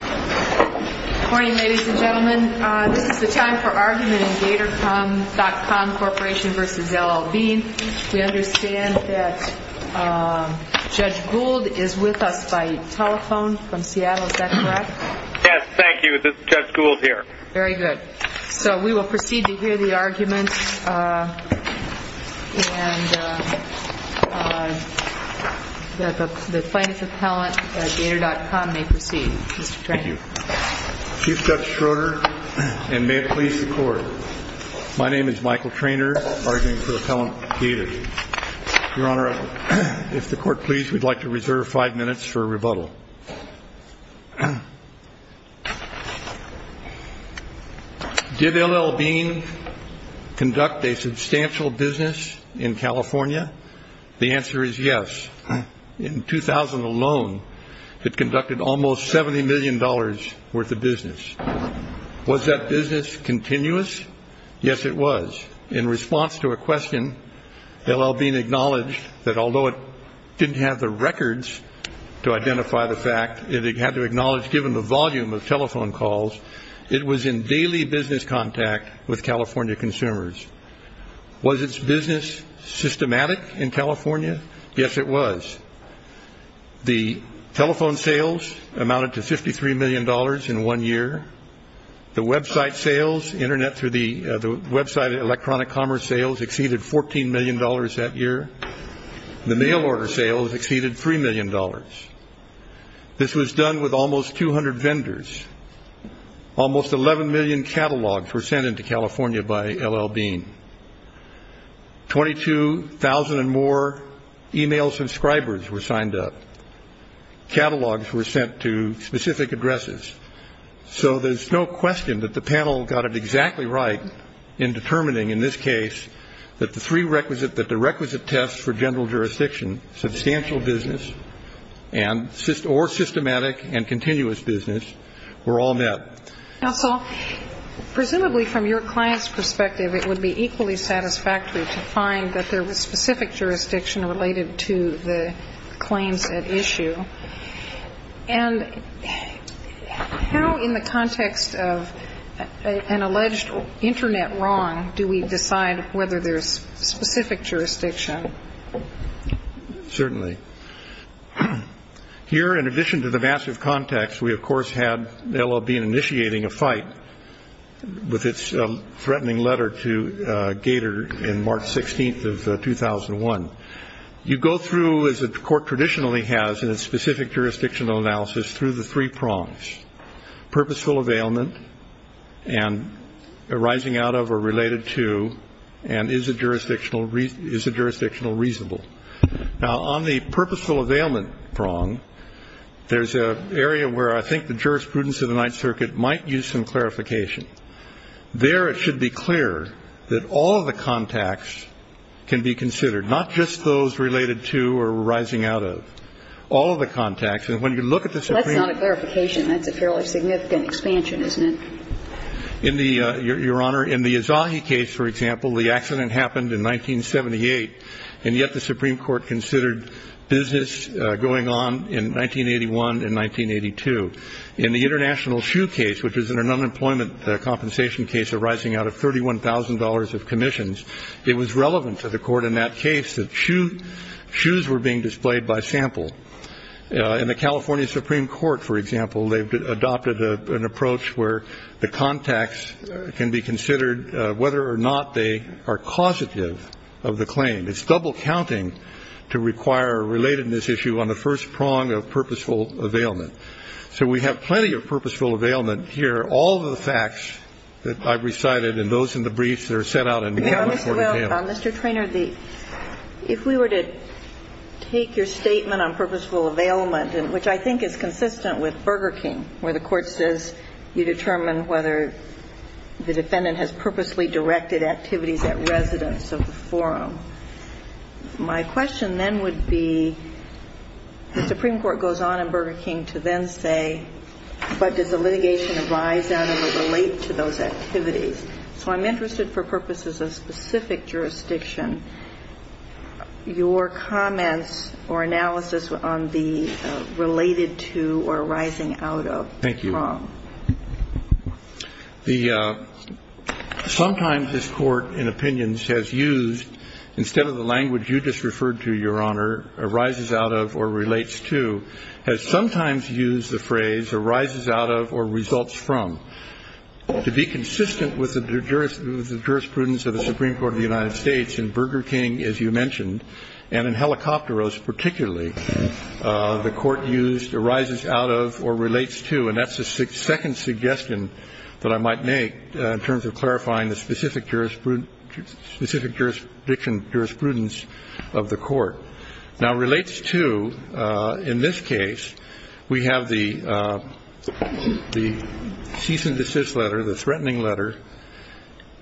Good morning, ladies and gentlemen. This is the time for argument in Gator.com Corporation v. L.L. Bean. We understand that Judge Gould is with us by telephone from Seattle, is that correct? Yes, thank you. This is Judge Gould here. Very good. So we will proceed to hear the argument and that the plaintiff's appellant at Gator.com may proceed. Thank you. Chief Judge Schroeder, and may it please the Court, my name is Michael Treanor, arguing for the appellant Gator. Your Honor, if the Court please, we'd like to reserve five minutes for rebuttal. Did L.L. Bean conduct a substantial business in California? The answer is yes. In 2000 alone, it conducted almost $70 million worth of business. Was that business continuous? Yes, it was. In response to a question, L.L. Bean acknowledged that although it didn't have the records to identify the fact, it had to acknowledge given the volume of telephone calls, it was in daily business contact with California consumers. Was its business systematic in California? Yes, it was. The telephone sales amounted to $53 million in one year. The website sales, internet through the website electronic commerce sales, exceeded $14 million that year. The mail order sales exceeded $3 million. This was done with almost 200 vendors. Almost 11 million catalogs were sent into California by L.L. Bean. 22,000 or more e-mail subscribers were signed up. Catalogs were sent to specific addresses. So there's no question that the panel got it exactly right in determining in this case that the three requisite, that the requisite tests for general jurisdiction, substantial business, or systematic and continuous business were all met. Now, so presumably from your client's perspective, it would be equally satisfactory to find that there was specific jurisdiction related to the claims at issue. And how in the context of an alleged internet wrong do we decide whether there's specific jurisdiction? Certainly. Here, in addition to the massive context, we of course had L.L. Bean initiating a fight with its threatening letter to Gator in March 16th of 2001. You go through, as the court traditionally has in its specific jurisdictional analysis, through the three prongs, purposeful availment and arising out of or related to and is the jurisdictional reasonable. Now, on the purposeful availment prong, there's an area where I think the jurisprudence of the Ninth Circuit might use some clarification. There it should be clear that all of the contacts can be considered, not just those related to or arising out of. All of the contacts. And when you look at the Supreme Court. That's not a clarification. That's a fairly significant expansion, isn't it? Your Honor, in the Izahi case, for example, the accident happened in 1978, and yet the Supreme Court considered business going on in 1981 and 1982. In the international shoe case, which is an unemployment compensation case arising out of $31,000 of commissions, it was relevant to the court in that case that shoes were being displayed by sample. In the California Supreme Court, for example, they've adopted an approach where the contacts can be considered whether or not they are causative of the claim. It's double counting to require a relatedness issue on the first prong of purposeful availment. So we have plenty of purposeful availment here. All of the facts that I've recited and those in the briefs that are set out in the California Court of Appeals. Mr. Treanor, if we were to take your statement on purposeful availment, which I think is consistent with Burger King, where the court says you determine whether the defendant has purposely directed activities at residence of the forum. My question then would be, the Supreme Court goes on in Burger King to then say, but does the litigation arise out of or relate to those activities? So I'm interested for purposes of specific jurisdiction. Your comments or analysis on the related to or arising out of prong. Thank you. Sometimes this court in opinions has used, instead of the language you just referred to, Your Honor, arises out of or relates to, has sometimes used the phrase arises out of or results from. To be consistent with the jurisprudence of the Supreme Court of the United States, in Burger King, as you mentioned, and in Helicopteros particularly, the court used arises out of or relates to, and that's the second suggestion that I might make in terms of clarifying the specific jurisprudence of the court. Now relates to, in this case, we have the cease and desist letter, the threatening letter.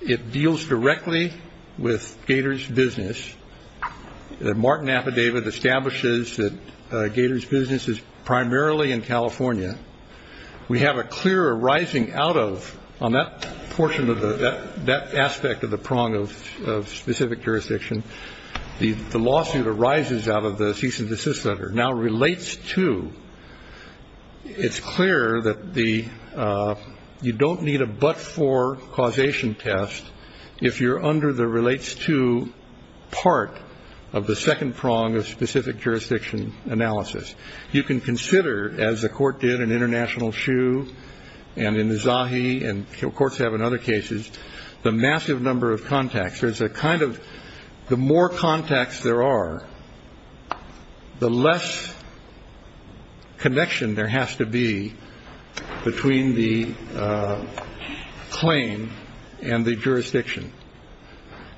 It deals directly with Gator's business. The Martin affidavit establishes that Gator's business is primarily in California. We have a clear arising out of on that portion of that aspect of the prong of specific jurisdiction. The lawsuit arises out of the cease and desist letter. Now relates to, it's clear that you don't need a but-for causation test if you're under the relates to part of the second prong of specific jurisdiction analysis. You can consider, as the court did in International Shoe and in the Zahi and courts have in other cases, the massive number of contacts. There's a kind of the more contacts there are, the less connection there has to be between the claim and the jurisdiction.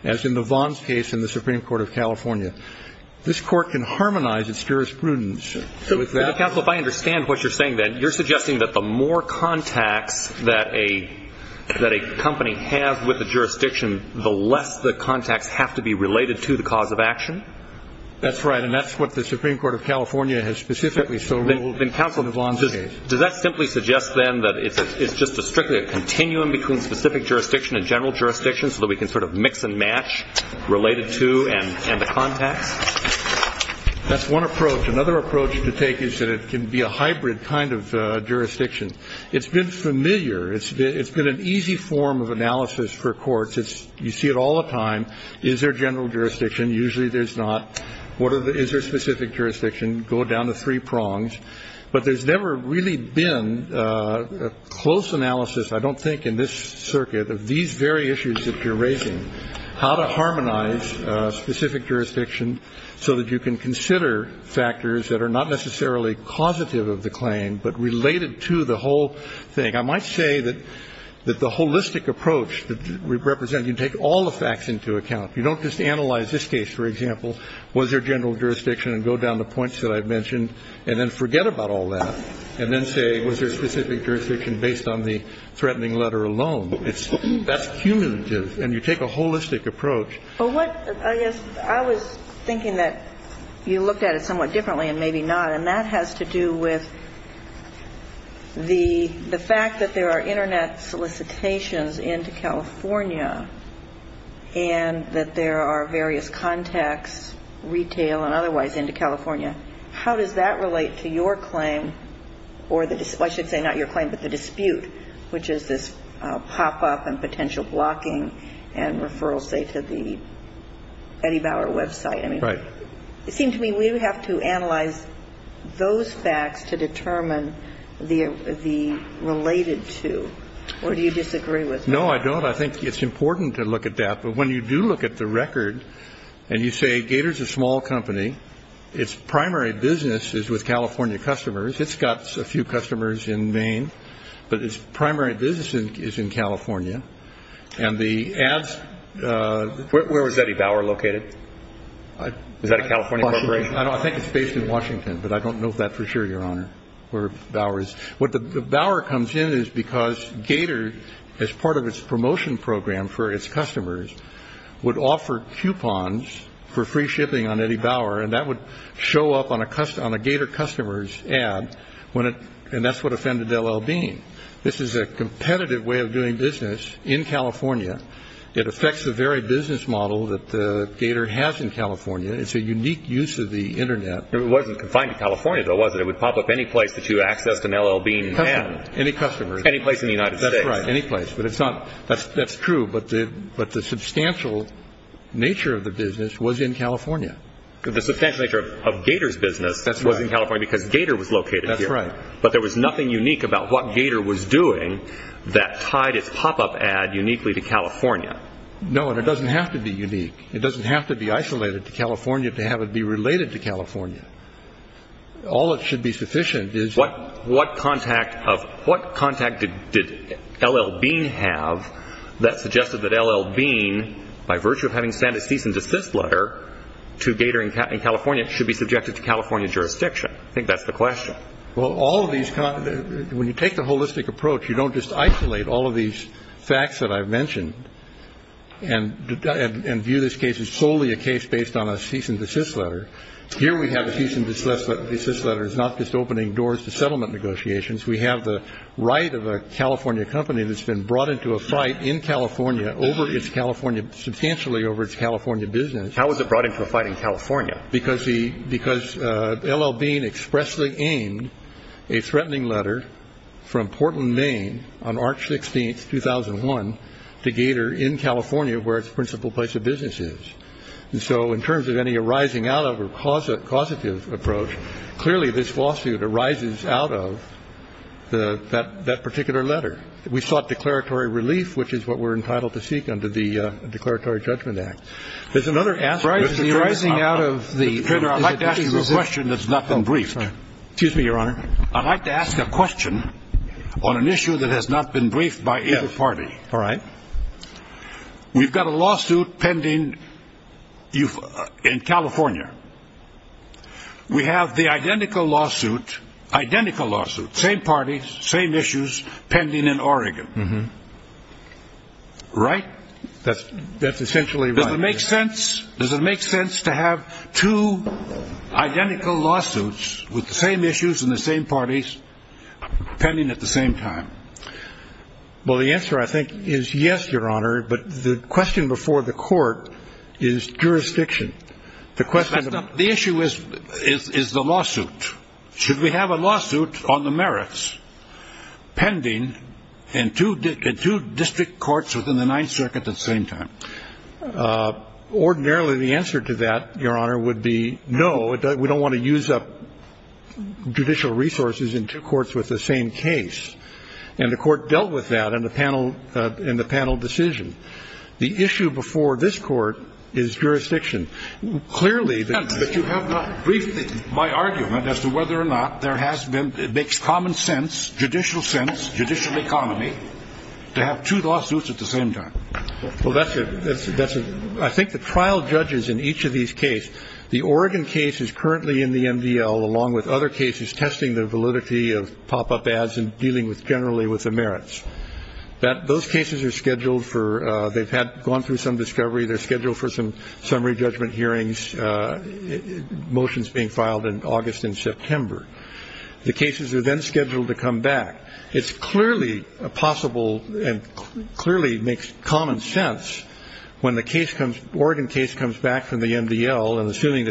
As in the Vons case in the Supreme Court of California. This court can harmonize its jurisprudence with that. Counsel, if I understand what you're saying then, you're suggesting that the more contacts that a company has with the jurisdiction, the less the contacts have to be related to the cause of action? That's right, and that's what the Supreme Court of California has specifically so ruled in the Vons case. Does that simply suggest then that it's just strictly a continuum between specific jurisdiction and general jurisdiction so that we can sort of mix and match related to and the contacts? That's one approach. Another approach to take is that it can be a hybrid kind of jurisdiction. It's been familiar. It's been an easy form of analysis for courts. You see it all the time. Is there general jurisdiction? Usually there's not. Is there specific jurisdiction? Go down the three prongs. But there's never really been a close analysis, I don't think, in this circuit of these very issues that you're raising, how to harmonize specific jurisdiction so that you can consider factors that are not necessarily causative of the claim but related to the whole thing. I might say that the holistic approach that we represent, you take all the facts into account. You don't just analyze this case, for example, was there general jurisdiction and go down the points that I've mentioned and then forget about all that and then say was there specific jurisdiction based on the threatening letter alone. That's cumulative. And you take a holistic approach. I was thinking that you looked at it somewhat differently and maybe not, and that has to do with the fact that there are Internet solicitations into California and that there are various contacts, retail and otherwise, into California. How does that relate to your claim, or I should say not your claim, but the dispute, which is this pop-up and potential blocking and referral, say, to the Eddie Bauer website? Right. It seemed to me we have to analyze those facts to determine the related to. Or do you disagree with that? No, I don't. I think it's important to look at that. But when you do look at the record and you say Gator is a small company, its primary business is with California customers. It's got a few customers in Maine, but its primary business is in California, and the ads. Where was Eddie Bauer located? Was that a California corporation? I think it's based in Washington, but I don't know that for sure, Your Honor, where Bauer is. What Bauer comes in is because Gator, as part of its promotion program for its customers, would offer coupons for free shipping on Eddie Bauer, and that would show up on a Gator customer's ad, and that's what offended L.L. Bean. This is a competitive way of doing business in California. It affects the very business model that Gator has in California. It's a unique use of the Internet. It wasn't confined to California, though, was it? It would pop up any place that you accessed an L.L. Bean ad. Any customers. Any place in the United States. That's right, any place. That's true, but the substantial nature of the business was in California. The substantial nature of Gator's business was in California because Gator was located here. That's right. But there was nothing unique about what Gator was doing that tied its pop-up ad uniquely to California. No, and it doesn't have to be unique. It doesn't have to be isolated to California to have it be related to California. All that should be sufficient is... What contact did L.L. Bean have that suggested that L.L. Bean, by virtue of having sent a cease and desist letter to Gator in California, should be subjected to California jurisdiction? I think that's the question. Well, when you take the holistic approach, you don't just isolate all of these facts that I've mentioned and view this case as solely a case based on a cease and desist letter. Here we have a cease and desist letter. It's not just opening doors to settlement negotiations. We have the right of a California company that's been brought into a fight in California, substantially over its California business. How was it brought into a fight in California? Because L.L. Bean expressly aimed a threatening letter from Portland, Maine, on March 16, 2001, to Gator in California where its principal place of business is. And so in terms of any arising out of or causative approach, clearly this lawsuit arises out of that particular letter. We sought declaratory relief, which is what we're entitled to seek under the Declaratory Judgment Act. There's another aspect... Mr. Turner, I'd like to ask you a question that's not been briefed. Excuse me, Your Honor. I'd like to ask a question on an issue that has not been briefed by either party. All right. We've got a lawsuit pending in California. We have the identical lawsuit, same parties, same issues, pending in Oregon. Right? That's essentially right. Does it make sense to have two identical lawsuits with the same issues and the same parties pending at the same time? Well, the answer, I think, is yes, Your Honor. But the question before the court is jurisdiction. The issue is the lawsuit. Should we have a lawsuit on the merits pending in two district courts within the Ninth Circuit at the same time? Ordinarily, the answer to that, Your Honor, would be no. We don't want to use up judicial resources in two courts with the same case. And the court dealt with that in the panel decision. The issue before this court is jurisdiction. Clearly... But you have not briefed my argument as to whether or not there has been... It makes common sense, judicial sense, judicial economy, to have two lawsuits at the same time. Well, that's a... I think the trial judges in each of these cases... The Oregon case is currently in the MDL, along with other cases, testing the validity of pop-up ads and dealing generally with the merits. Those cases are scheduled for... They've gone through some discovery. They're scheduled for some summary judgment hearings, motions being filed in August and September. The cases are then scheduled to come back. It's clearly possible and clearly makes common sense when the case comes...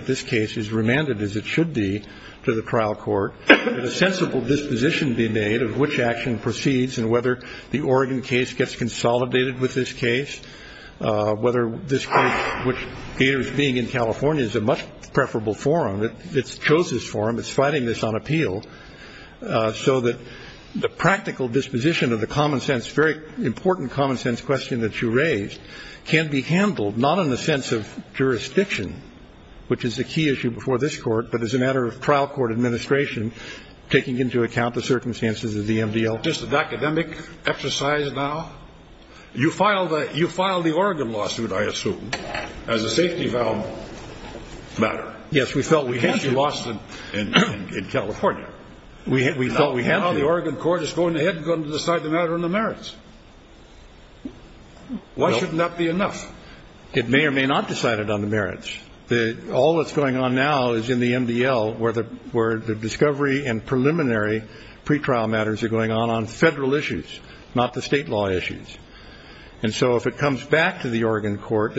This case is remanded, as it should be, to the trial court, that a sensible disposition be made of which action proceeds and whether the Oregon case gets consolidated with this case, whether this case, which, being in California, is a much preferable forum, it chose this forum, it's fighting this on appeal, so that the practical disposition of the common sense, very important common sense question that you raised, can be handled not in the sense of jurisdiction, which is a key issue before this court, but as a matter of trial court administration, taking into account the circumstances of the MDL. Just an academic exercise now. You filed the Oregon lawsuit, I assume, as a safety-vow matter. Yes, we felt we had to. It can't be lost in California. We felt we had to. Now the Oregon court is going ahead and going to decide the matter on the merits. Why shouldn't that be enough? It may or may not decide it on the merits. All that's going on now is in the MDL, where the discovery and preliminary pretrial matters are going on on Federal issues, not the State law issues. And so if it comes back to the Oregon court,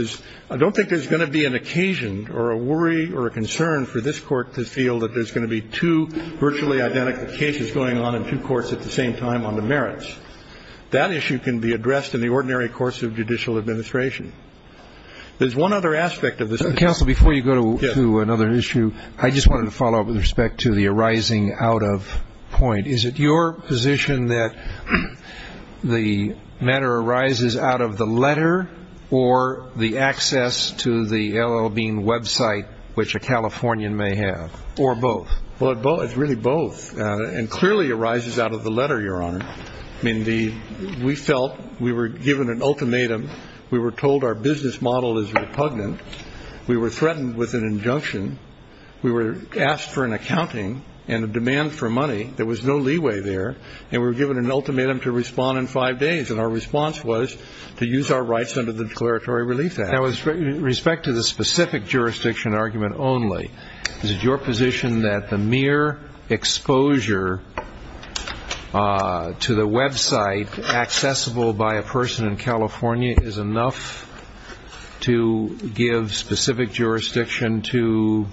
I don't think there's going to be an occasion or a worry or a concern for this court to feel that there's going to be two virtually identical cases going on in two courts at the same time on the merits. That issue can be addressed in the ordinary course of judicial administration. There's one other aspect of this. Counsel, before you go to another issue, I just wanted to follow up with respect to the arising out of point. Is it your position that the matter arises out of the letter or the access to the L.L. Bean website, which a Californian may have, or both? Well, it's really both, and clearly arises out of the letter, Your Honor. I mean, we felt we were given an ultimatum. We were told our business model is repugnant. We were threatened with an injunction. We were asked for an accounting and a demand for money. There was no leeway there, and we were given an ultimatum to respond in five days, and our response was to use our rights under the Declaratory Relief Act. With respect to the specific jurisdiction argument only, is it your position that the mere exposure to the website accessible by a person in California is enough to give specific jurisdiction to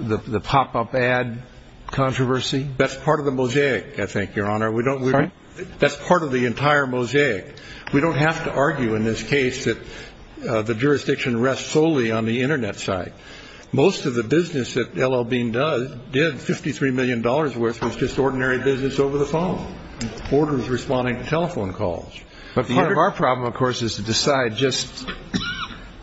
the pop-up ad controversy? That's part of the mosaic, I think, Your Honor. Sorry? That's part of the entire mosaic. We don't have to argue in this case that the jurisdiction rests solely on the Internet site. Most of the business that L.L. Bean did, $53 million worth, was just ordinary business over the phone, orders responding to telephone calls. But part of our problem, of course, is to decide just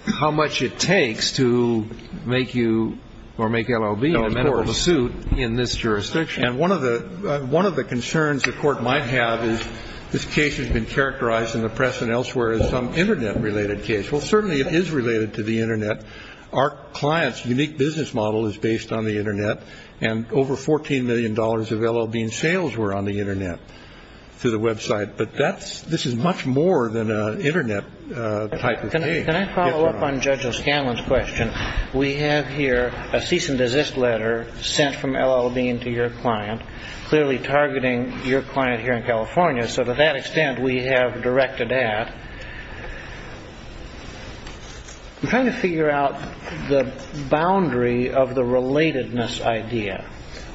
how much it takes to make you or make L.L. Bean a medical pursuit in this jurisdiction. And one of the concerns the Court might have is this case has been characterized in the press and elsewhere as some Internet-related case. Well, certainly it is related to the Internet. Our client's unique business model is based on the Internet, and over $14 million of L.L. Bean sales were on the Internet through the website. But this is much more than an Internet type of thing. Can I follow up on Judge O'Scanlan's question? We have here a cease-and-desist letter sent from L.L. Bean to your client, clearly targeting your client here in California, so to that extent we have directed at. I'm trying to figure out the boundary of the relatedness idea.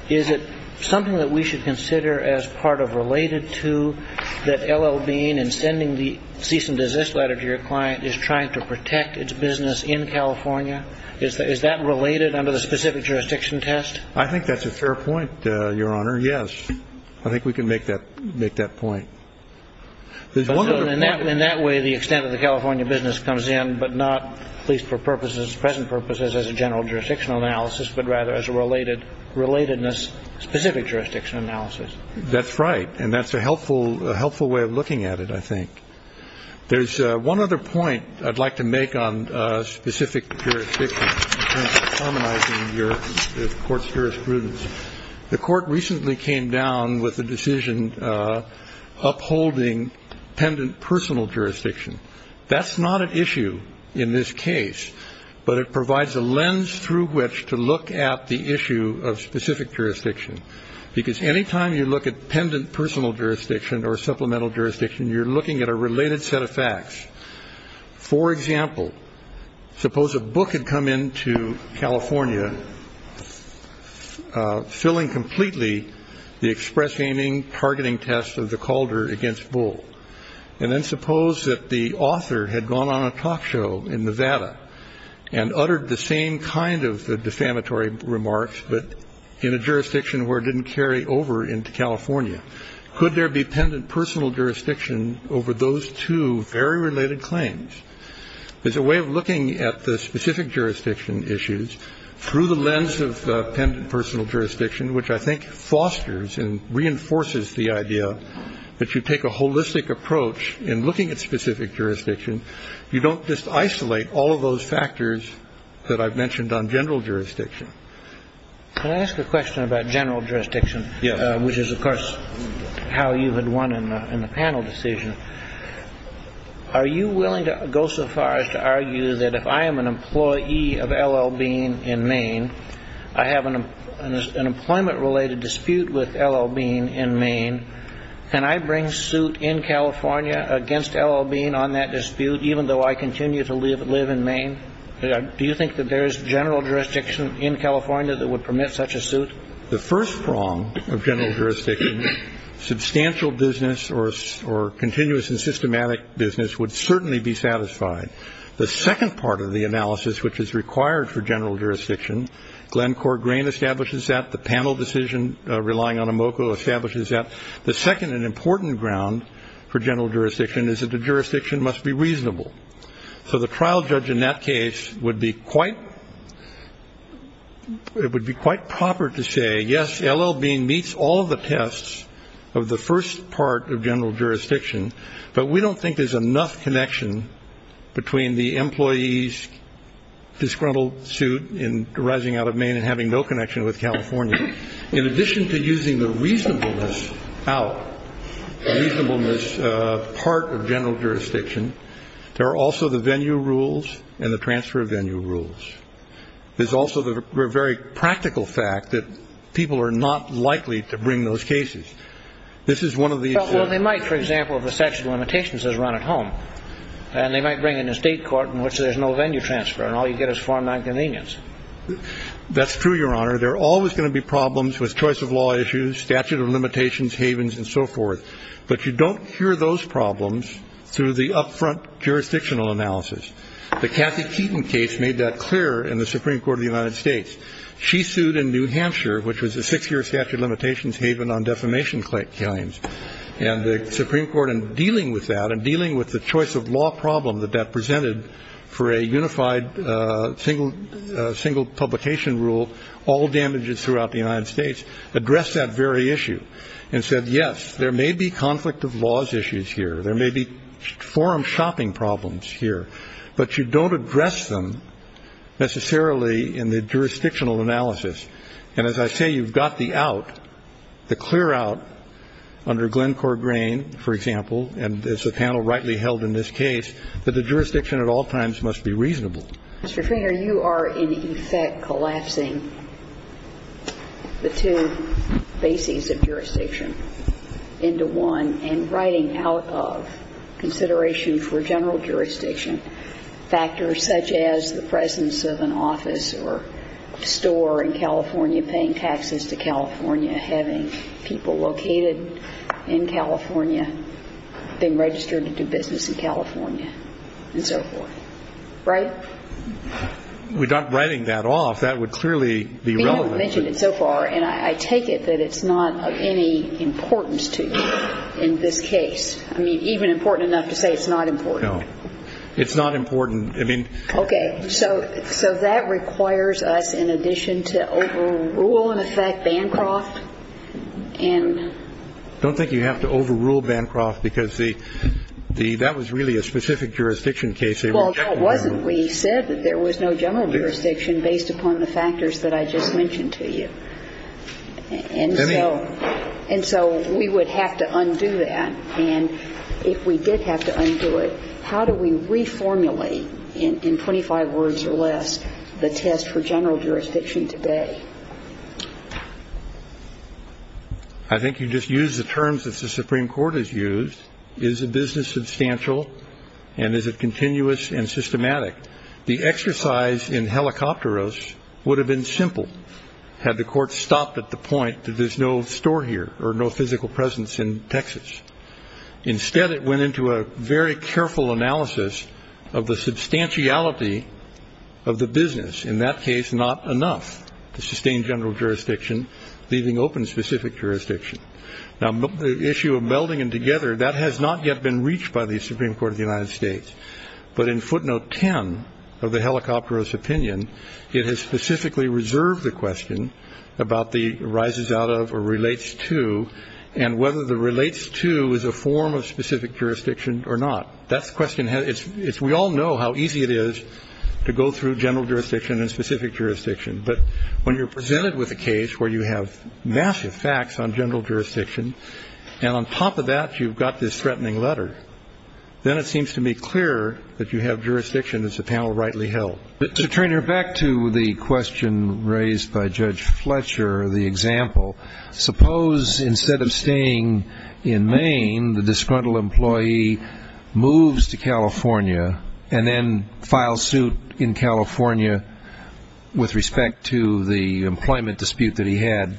Is it something that we should consider as part of related to that L.L. Bean in sending the cease-and-desist letter to your client is trying to protect its business in California? Is that related under the specific jurisdiction test? I think that's a fair point, Your Honor, yes. I think we can make that point. In that way, the extent of the California business comes in, but not, at least for present purposes, as a general jurisdiction analysis, but rather as a relatedness-specific jurisdiction analysis. That's right, and that's a helpful way of looking at it, I think. There's one other point I'd like to make on specific jurisdictions in terms of harmonizing the court's jurisprudence. The court recently came down with a decision upholding pendant personal jurisdiction. That's not an issue in this case, but it provides a lens through which to look at the issue of specific jurisdiction, because any time you look at pendant personal jurisdiction or supplemental jurisdiction, you're looking at a related set of facts. For example, suppose a book had come into California filling completely the express aiming targeting test of the Calder against Bull. And then suppose that the author had gone on a talk show in Nevada and uttered the same kind of defamatory remarks, but in a jurisdiction where it didn't carry over into California. Could there be pendant personal jurisdiction over those two very related claims? There's a way of looking at the specific jurisdiction issues through the lens of pendant personal jurisdiction, which I think fosters and reinforces the idea that you take a holistic approach in looking at specific jurisdiction. You don't just isolate all of those factors that I've mentioned on general jurisdiction. Can I ask a question about general jurisdiction? Which is, of course, how you had won in the panel decision. Are you willing to go so far as to argue that if I am an employee of L.L. Bean in Maine, I have an employment related dispute with L.L. Bean in Maine, and I bring suit in California against L.L. Bean on that dispute, even though I continue to live in Maine? Do you think that there is general jurisdiction in California that would permit such a suit? The first prong of general jurisdiction, substantial business or continuous and systematic business would certainly be satisfied. The second part of the analysis, which is required for general jurisdiction, Glenn Corgrain establishes that. The panel decision relying on a MOCO establishes that. The second and important ground for general jurisdiction is that the jurisdiction must be reasonable. So the trial judge in that case would be quite proper to say, yes, L.L. Bean meets all the tests of the first part of general jurisdiction, but we don't think there's enough connection between the employee's disgruntled suit arising out of Maine and having no connection with California. In addition to using the reasonableness out, reasonableness part of general jurisdiction, there are also the venue rules and the transfer of venue rules. There's also the very practical fact that people are not likely to bring those cases. This is one of these. Well, they might, for example, if a statute of limitations is run at home, and they might bring an estate court in which there's no venue transfer and all you get is Form 9 convenience. That's true, Your Honor. There are always going to be problems with choice of law issues, statute of limitations, havens, and so forth. But you don't hear those problems through the upfront jurisdictional analysis. The Kathy Keaton case made that clear in the Supreme Court of the United States. She sued in New Hampshire, which was a six-year statute of limitations haven on defamation claims. And the Supreme Court, in dealing with that and dealing with the choice of law problem that that presented for a unified single publication rule, all damages throughout the United States, addressed that very issue and said, yes, there may be conflict of laws issues here. There may be forum shopping problems here. But you don't address them necessarily in the jurisdictional analysis. And as I say, you've got the out, the clear out under Glencore Grain, for example, and it's a panel rightly held in this case, that the jurisdiction at all times must be reasonable. Mr. Finger, you are, in effect, collapsing the two bases of jurisdiction into one and writing out of consideration for general jurisdiction factors such as the presence of an office or store in California, having people located in California, being registered to do business in California, and so forth. Right? We're not writing that off. That would clearly be relevant. You have mentioned it so far, and I take it that it's not of any importance to you in this case. I mean, even important enough to say it's not important. No. It's not important. I mean — Okay. So that requires us, in addition to overrule, in effect, Bancroft and — I don't think you have to overrule Bancroft because that was really a specific jurisdiction case. Well, it wasn't. We said that there was no general jurisdiction based upon the factors that I just mentioned to you. And so we would have to undo that. And if we did have to undo it, how do we reformulate, in 25 words or less, the test for general jurisdiction today? I think you just used the terms that the Supreme Court has used. Is the business substantial, and is it continuous and systematic? The exercise in Helicopteros would have been simple had the court stopped at the point that there's no store here or no physical presence in Texas. Instead, it went into a very careful analysis of the substantiality of the business, in that case not enough to sustain general jurisdiction, leaving open specific jurisdiction. Now, the issue of melding them together, that has not yet been reached by the Supreme Court of the United States. But in footnote 10 of the Helicopteros opinion, it has specifically reserved the question about the rises out of or relates to and whether the relates to is a form of specific jurisdiction or not. That's the question. We all know how easy it is to go through general jurisdiction and specific jurisdiction. But when you're presented with a case where you have massive facts on general jurisdiction, and on top of that you've got this threatening letter, then it seems to me clearer that you have jurisdiction as the panel rightly held. Mr. Treanor, back to the question raised by Judge Fletcher, the example, suppose instead of staying in Maine, the disgruntled employee moves to California and then files suit in California with respect to the employment dispute that he had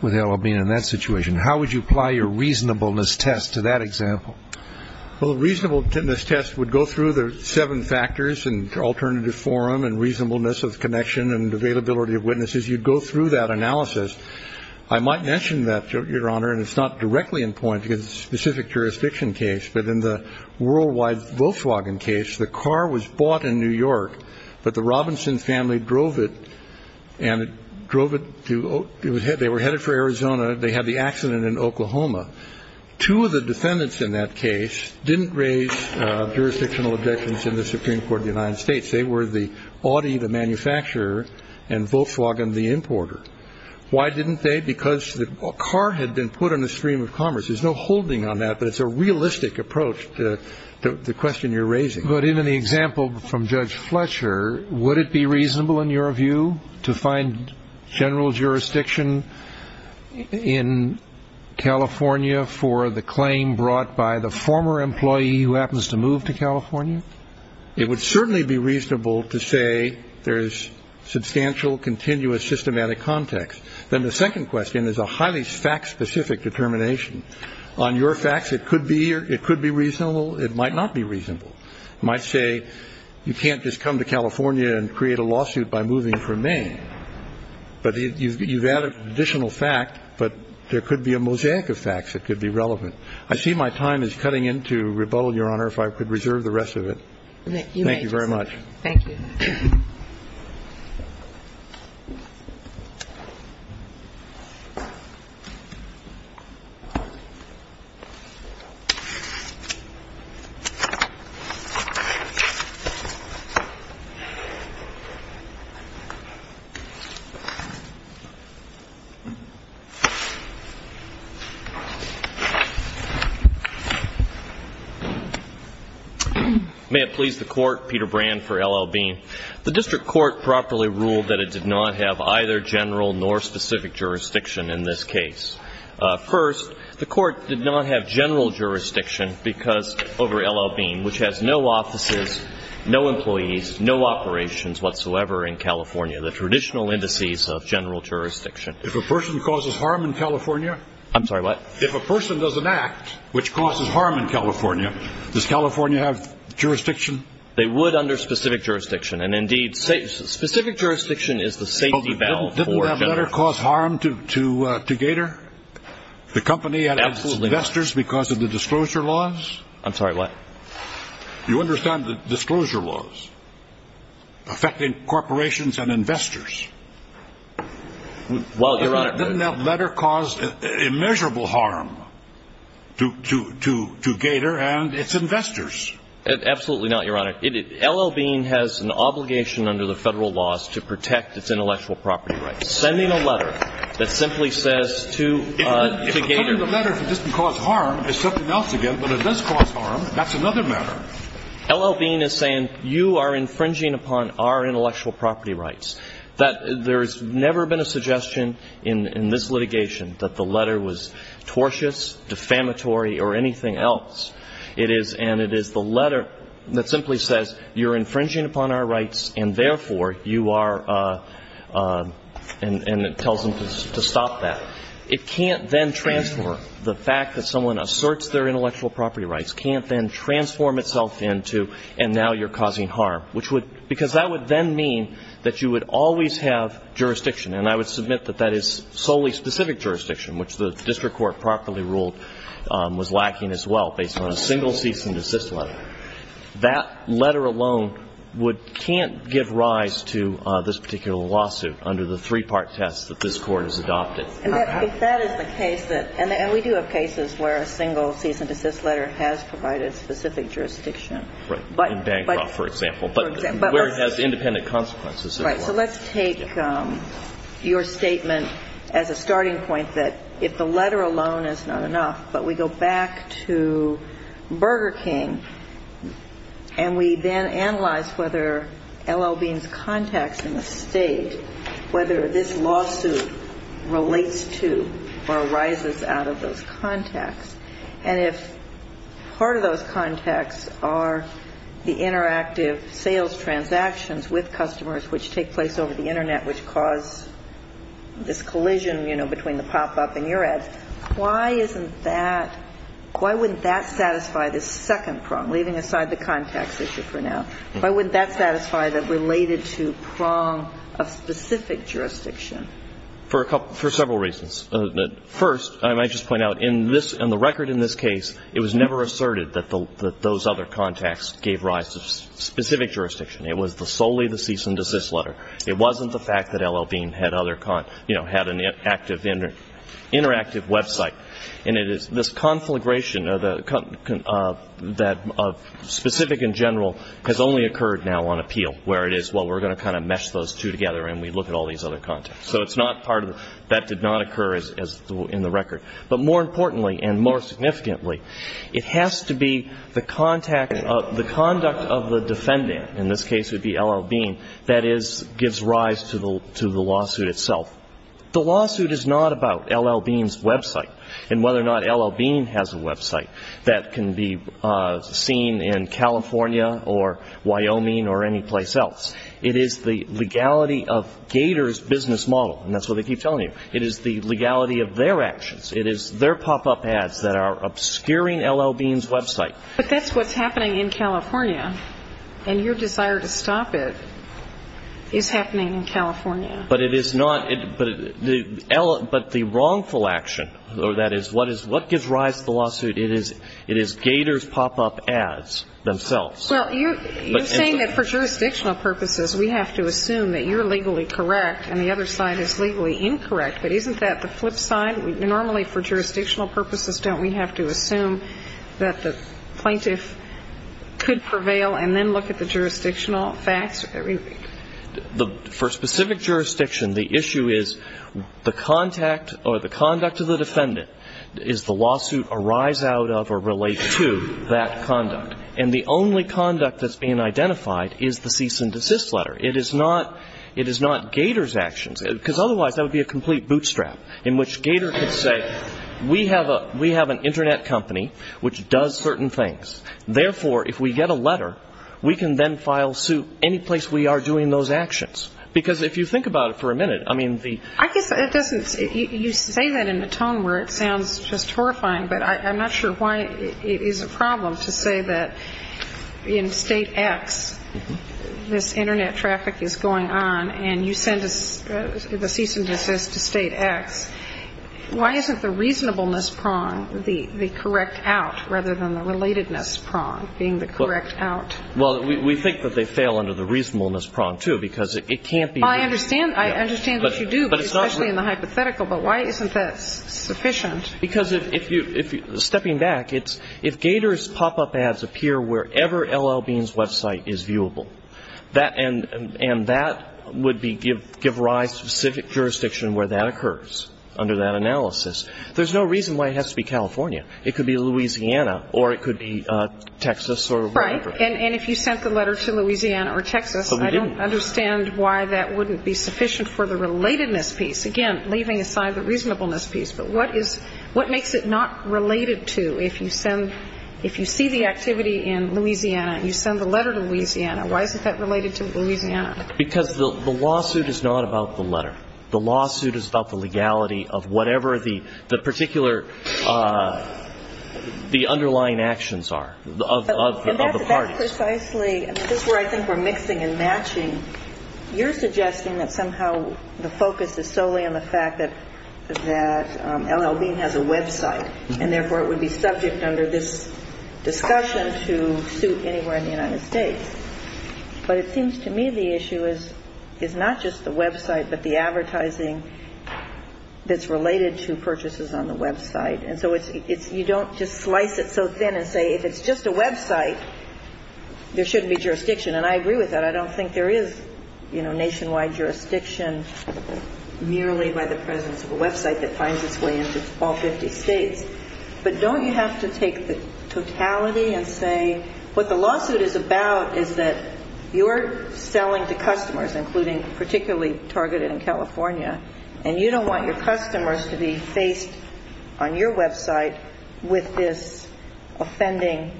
with Alabama. In that situation, how would you apply your reasonableness test to that example? Well, reasonableness test would go through the seven factors and alternative forum and reasonableness of connection and availability of witnesses. You'd go through that analysis. I might mention that, Your Honor, and it's not directly in point because it's a specific jurisdiction case, but in the worldwide Volkswagen case, the car was bought in New York, but the Robinson family drove it and drove it to they were headed for Arizona. They had the accident in Oklahoma. Two of the defendants in that case didn't raise jurisdictional objections in the Supreme Court of the United States. They were the Audi, the manufacturer, and Volkswagen, the importer. Why didn't they? Because the car had been put on the stream of commerce. There's no holding on that, but it's a realistic approach to the question you're raising. But in the example from Judge Fletcher, would it be reasonable, in your view, to find general jurisdiction in California for the claim brought by the former employee who happens to move to California? It would certainly be reasonable to say there is substantial, continuous, systematic context. Then the second question is a highly fact-specific determination. On your facts, it could be reasonable. It might not be reasonable. It might say you can't just come to California and create a lawsuit by moving from Maine. But you've added additional fact, but there could be a mosaic of facts that could be relevant. I see my time is cutting into rebuttal, Your Honor, if I could reserve the rest of it. Thank you very much. Thank you. Thank you. May it please the Court, Peter Brand for L.L. Bean. The district court properly ruled that it did not have either general nor specific jurisdiction in this case. First, the court did not have general jurisdiction because, over L.L. Bean, which has no offices, no employees, no operations whatsoever in California, the traditional indices of general jurisdiction. If a person causes harm in California? I'm sorry, what? If a person does an act which causes harm in California, does California have jurisdiction? They would under specific jurisdiction. And, indeed, specific jurisdiction is the safety valve for general. Didn't that letter cause harm to Gator, the company and its investors because of the disclosure laws? I'm sorry, what? You understand the disclosure laws affecting corporations and investors? Didn't that letter cause immeasurable harm to Gator and its investors? Absolutely not, Your Honor. L.L. Bean has an obligation under the Federal laws to protect its intellectual property rights. Sending a letter that simply says to Gator. If the letter doesn't cause harm, it's something else again. But if it does cause harm, that's another matter. L.L. Bean is saying you are infringing upon our intellectual property rights. There has never been a suggestion in this litigation that the letter was tortious, defamatory, or anything else. And it is the letter that simply says you're infringing upon our rights and, therefore, you are and tells them to stop that. It can't then transform. The fact that someone asserts their intellectual property rights can't then transform itself into and now you're causing harm. Because that would then mean that you would always have jurisdiction. And I would submit that that is solely specific jurisdiction, which the district court properly ruled was lacking as well, based on a single cease and desist letter. That letter alone can't give rise to this particular lawsuit under the three-part test that this Court has adopted. If that is the case, and we do have cases where a single cease and desist letter has provided specific jurisdiction. Right. In Bancroft, for example, where it has independent consequences. Right. So let's take your statement as a starting point that if the letter alone is not enough, but we go back to Burger King and we then analyze whether L.L. Bean's contacts in the State, whether this lawsuit relates to or arises out of those contacts, and if part of those contacts are the interactive sales transactions with customers, which take place over the Internet, which cause this collision, you know, between the pop-up and your ads, why isn't that, why wouldn't that satisfy the second prong, leaving aside the contacts issue for now? Why wouldn't that satisfy the related to prong of specific jurisdiction? For several reasons. First, I might just point out, in the record in this case, it was never asserted that those other contacts gave rise to specific jurisdiction. It was solely the cease and desist letter. It wasn't the fact that L.L. Bean had other, you know, had an active interactive website. And it is this conflagration of specific in general has only occurred now on appeal, where it is, well, we're going to kind of mesh those two together and we look at all these other contacts. So it's not part of, that did not occur in the record. But more importantly and more significantly, it has to be the contact, the conduct of the defendant, in this case it would be L.L. Bean, that gives rise to the lawsuit itself. The lawsuit is not about L.L. Bean's website and whether or not L.L. Bean has a website that can be seen in California or Wyoming or any place else. It is the legality of Gator's business model. And that's what they keep telling you. It is the legality of their actions. It is their pop-up ads that are obscuring L.L. Bean's website. But that's what's happening in California. And your desire to stop it is happening in California. But it is not. But the wrongful action, or that is what gives rise to the lawsuit, it is Gator's pop-up ads themselves. Well, you're saying that for jurisdictional purposes we have to assume that you're legally correct and the other side is legally incorrect. But isn't that the flip side? Normally for jurisdictional purposes don't we have to assume that the plaintiff could prevail and then look at the jurisdictional facts? For specific jurisdiction the issue is the contact or the conduct of the defendant is the lawsuit a rise out of or relate to that conduct. And the only conduct that's being identified is the cease and desist letter. It is not Gator's actions. Because otherwise that would be a complete bootstrap in which Gator could say we have an Internet company which does certain things. Therefore, if we get a letter, we can then file suit any place we are doing those actions. Because if you think about it for a minute, I mean the ---- I guess it doesn't ---- you say that in a tone where it sounds just horrifying, but I'm not sure why it is a problem to say that in State X this Internet traffic is going on and you send the cease and desist to State X. Why isn't the reasonableness prong the correct out rather than the relatedness prong being the correct out? Well, we think that they fail under the reasonableness prong, too, because it can't be ---- I understand. I understand that you do, especially in the hypothetical. But why isn't that sufficient? Because if you ---- stepping back, if Gator's pop-up ads appear wherever L.L. Bean's website is viewable, and that would give rise to a specific jurisdiction where that occurs under that analysis, there's no reason why it has to be California. It could be Louisiana or it could be Texas or wherever. Right. And if you sent the letter to Louisiana or Texas, I don't understand why that wouldn't be sufficient for the relatedness piece. Again, leaving aside the reasonableness piece. But what is ---- what makes it not related to if you send ---- if you see the activity in Louisiana, you send the letter to Louisiana, why isn't that related to Louisiana? Because the lawsuit is not about the letter. The lawsuit is about the legality of whatever the particular ---- the underlying actions are of the parties. But that's precisely ---- this is where I think we're mixing and matching. You're suggesting that somehow the focus is solely on the fact that L.L. Bean has a website, and therefore it would be subject under this discussion to suit anywhere in the United States. But it seems to me the issue is not just the website but the advertising that's related to purchases on the website. And so it's ---- you don't just slice it so thin and say if it's just a website, there shouldn't be jurisdiction. And I agree with that. I don't think there is, you know, nationwide jurisdiction merely by the presence of a website that finds its way into all 50 states. But don't you have to take the totality and say what the lawsuit is about is that you're selling to customers, including particularly targeted in California, and you don't want your customers to be faced on your website with this offending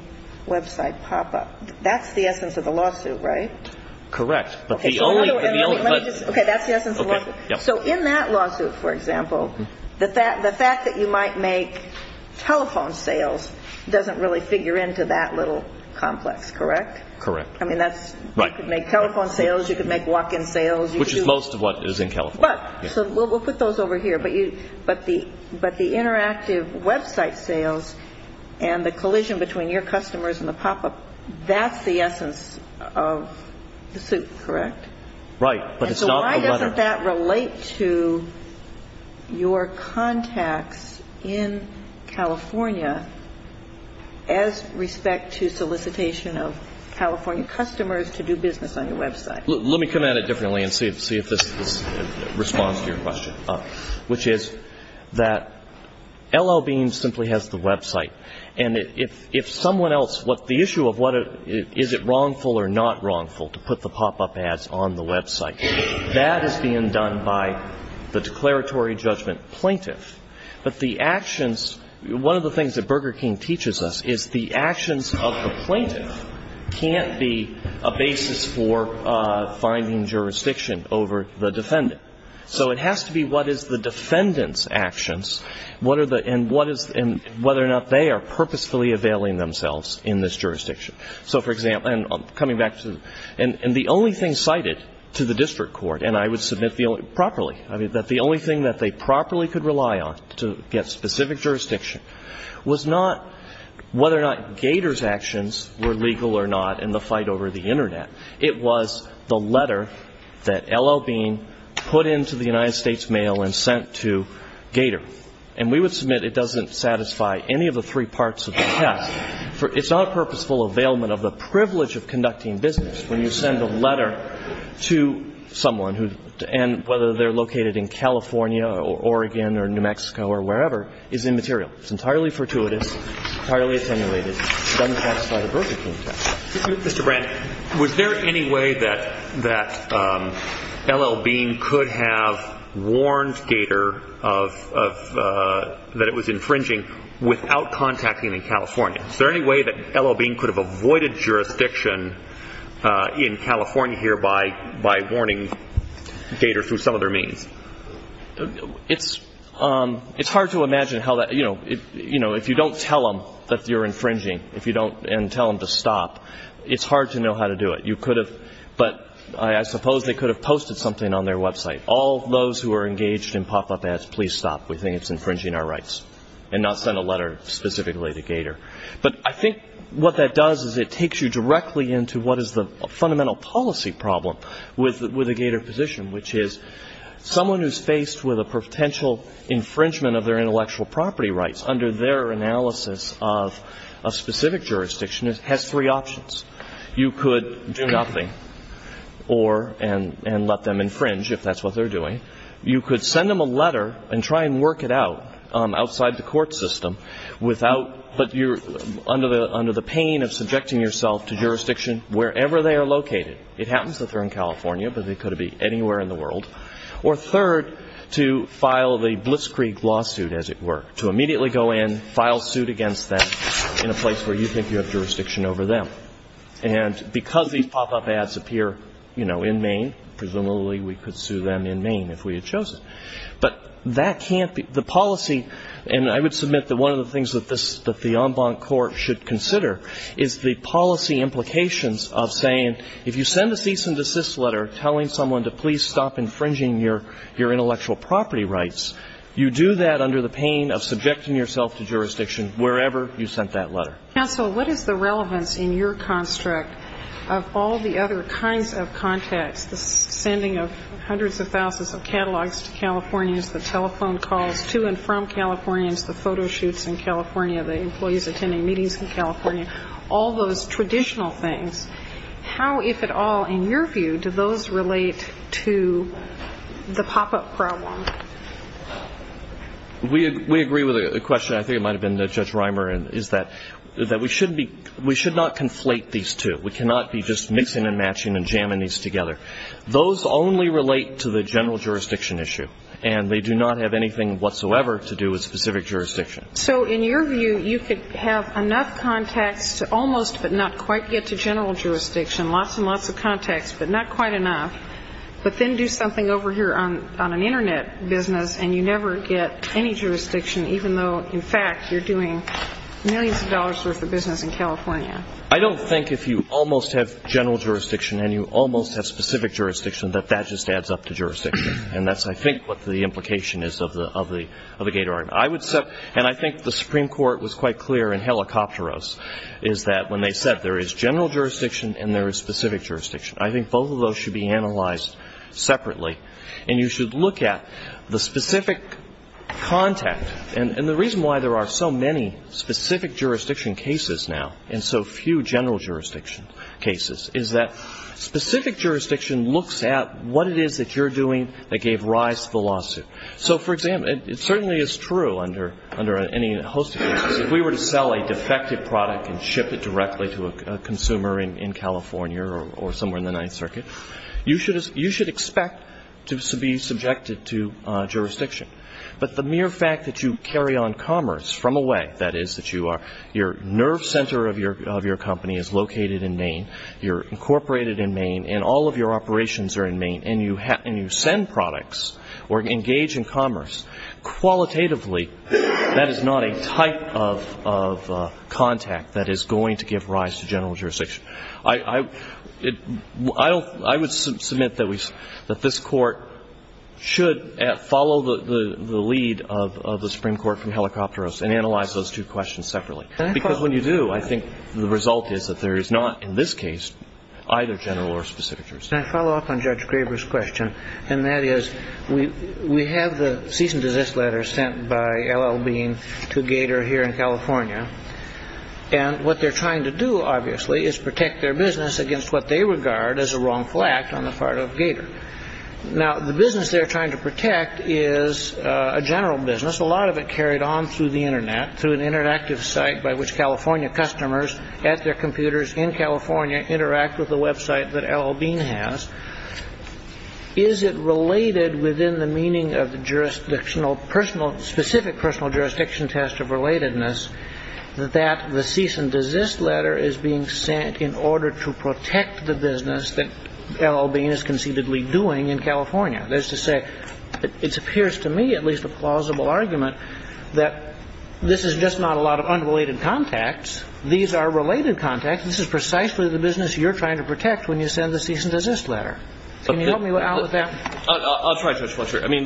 website pop-up. That's the essence of the lawsuit, right? Correct. But the only ---- Okay, that's the essence of the lawsuit. So in that lawsuit, for example, the fact that you might make telephone sales doesn't really figure into that little complex, correct? Correct. I mean, that's ---- Right. You could make telephone sales. You could make walk-in sales. Which is most of what is in California. So we'll put those over here. But the interactive website sales and the collision between your customers and the pop-up, that's the essence of the suit, correct? Right. But it's not a letter. And so why doesn't that relate to your contacts in California as respect to solicitation of California customers to do business on your website? Let me come at it differently and see if this responds to your question, which is that L.L. Bean simply has the website. And if someone else ---- the issue of is it wrongful or not wrongful to put the pop-up ads on the website, that is being done by the declaratory judgment plaintiff. But the actions ---- one of the things that Burger King teaches us is the actions of the plaintiff can't be a basis for finding jurisdiction over the defendant. So it has to be what is the defendant's actions and whether or not they are purposefully availing themselves in this jurisdiction. So, for example, and coming back to the ---- and the only thing cited to the district court, and I would submit properly, that the only thing that they properly could rely on to get specific jurisdiction was not whether or not Gator's actions were legal or not in the fight over the Internet. It was the letter that L.L. Bean put into the United States mail and sent to Gator. And we would submit it doesn't satisfy any of the three parts of the test. It's not a purposeful availment of the privilege of conducting business when you send a letter to someone who ---- and whether they're located in California or Oregon or New Mexico or wherever is immaterial. It's entirely fortuitous, entirely attenuated, doesn't satisfy the Burger King test. Mr. Brandt, was there any way that L.L. Bean could have warned Gator of ---- that it was infringing without contacting in California? Is there any way that L.L. Bean could have avoided jurisdiction in California here by warning Gator through some other means? It's hard to imagine how that, you know, if you don't tell them that you're infringing and tell them to stop, it's hard to know how to do it. You could have, but I suppose they could have posted something on their website. All those who are engaged in pop-up ads, please stop. We think it's infringing our rights. And not send a letter specifically to Gator. But I think what that does is it takes you directly into what is the fundamental policy problem with the Gator position, which is someone who's faced with a potential infringement of their intellectual property rights under their analysis of a specific jurisdiction has three options. You could do nothing and let them infringe, if that's what they're doing. You could send them a letter and try and work it out outside the court system, but you're under the pain of subjecting yourself to jurisdiction wherever they are located. It happens that they're in California, but they could be anywhere in the world. Or third, to file the Blitzkrieg lawsuit, as it were. To immediately go in, file suit against them in a place where you think you have jurisdiction over them. And because these pop-up ads appear, you know, in Maine, presumably we could sue them in Maine if we had chosen. But that can't be the policy, and I would submit that one of the things that the en banc court should consider is the policy implications of saying if you send a cease and desist letter telling someone to please stop infringing your intellectual property rights, you do that under the pain of subjecting yourself to jurisdiction wherever you sent that letter. Counsel, what is the relevance in your construct of all the other kinds of contacts, the sending of hundreds of thousands of catalogs to Californians, the telephone calls to and from Californians, the photo shoots in California, the employees attending meetings in California, all those traditional things. How, if at all, in your view, do those relate to the pop-up problem? We agree with the question. I think it might have been Judge Reimer is that we should not conflate these two. We cannot be just mixing and matching and jamming these together. Those only relate to the general jurisdiction issue, and they do not have anything whatsoever to do with specific jurisdiction. So in your view, you could have enough contacts to almost but not quite get to general jurisdiction, lots and lots of contacts but not quite enough, but then do something over here on an Internet business and you never get any jurisdiction even though, in fact, you're doing millions of dollars worth of business in California. I don't think if you almost have general jurisdiction and you almost have specific jurisdiction that that just adds up to jurisdiction, and that's, I think, what the implication is of the Gator argument. I would say, and I think the Supreme Court was quite clear in Helicopteros, is that when they said there is general jurisdiction and there is specific jurisdiction, I think both of those should be analyzed separately, and you should look at the specific contact. And the reason why there are so many specific jurisdiction cases now and so few general jurisdiction cases is that specific jurisdiction looks at what it is that you're doing that gave rise to the lawsuit. So, for example, it certainly is true under any host of cases. If we were to sell a defective product and ship it directly to a consumer in California or somewhere in the Ninth Circuit, you should expect to be subjected to jurisdiction. But the mere fact that you carry on commerce from away, that is, that your nerve center of your company is located in Maine, you're incorporated in Maine, and all of your operations are in Maine, and you send products or engage in commerce, qualitatively that is not a type of contact that is going to give rise to general jurisdiction. I would submit that this Court should follow the lead of the Supreme Court from Helicopteros and analyze those two questions separately, because when you do, I think the result is that there is not, in this case, either general or specific jurisdiction. Can I follow up on Judge Graber's question? And that is, we have the cease and desist letter sent by L.L. Bean to Gator here in California, and what they're trying to do, obviously, is protect their business against what they regard as a wrongful act on the part of Gator. Now, the business they're trying to protect is a general business. A lot of it carried on through the Internet, through an interactive site by which California customers, at their computers in California, interact with the website that L.L. Bean has. Is it related within the meaning of the specific personal jurisdiction test of relatedness that the cease and desist letter is being sent in order to protect the business that L.L. Bean is conceivably doing in California? That is to say, it appears to me, at least a plausible argument, that this is just not a lot of unrelated contacts. These are related contacts. This is precisely the business you're trying to protect when you send the cease and desist letter. Can you help me out with that? I'll try, Judge Fletcher. I mean,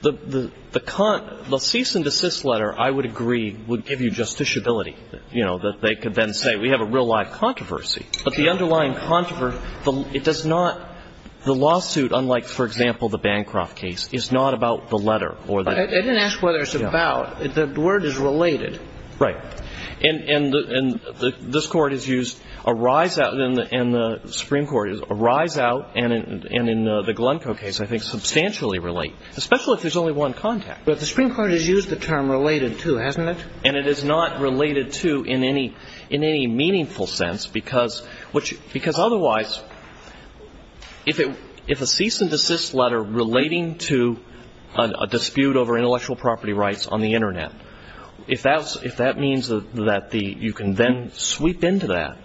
the cease and desist letter, I would agree, would give you justiciability, you know, that they could then say we have a real-life controversy. But the underlying controversy, it does not, the lawsuit, unlike, for example, the Bancroft case, is not about the letter. I didn't ask whether it's about. The word is related. Right. And this Court has used a rise out, and the Supreme Court has used a rise out, and in the Glencoe case, I think, substantially relate, especially if there's only one contact. But the Supreme Court has used the term related, too, hasn't it? And it is not related, too, in any meaningful sense, because otherwise, if a cease and desist letter relating to a dispute over intellectual property rights on the Internet, if that means that you can then sweep into that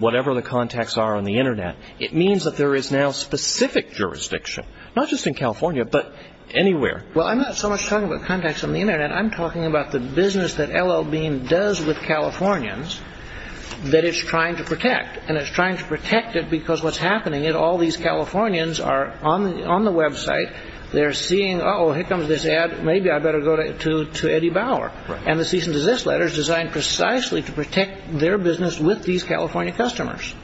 whatever the contacts are on the Internet, it means that there is now specific jurisdiction, not just in California, but anywhere. Well, I'm not so much talking about contacts on the Internet. I'm talking about the business that L.L. Bean does with Californians that it's trying to protect, and it's trying to protect it because what's happening is all these Californians are on the Web site. They're seeing, uh-oh, here comes this ad. Maybe I'd better go to Eddie Bauer. And the cease and desist letter is designed precisely to protect their business with these California customers.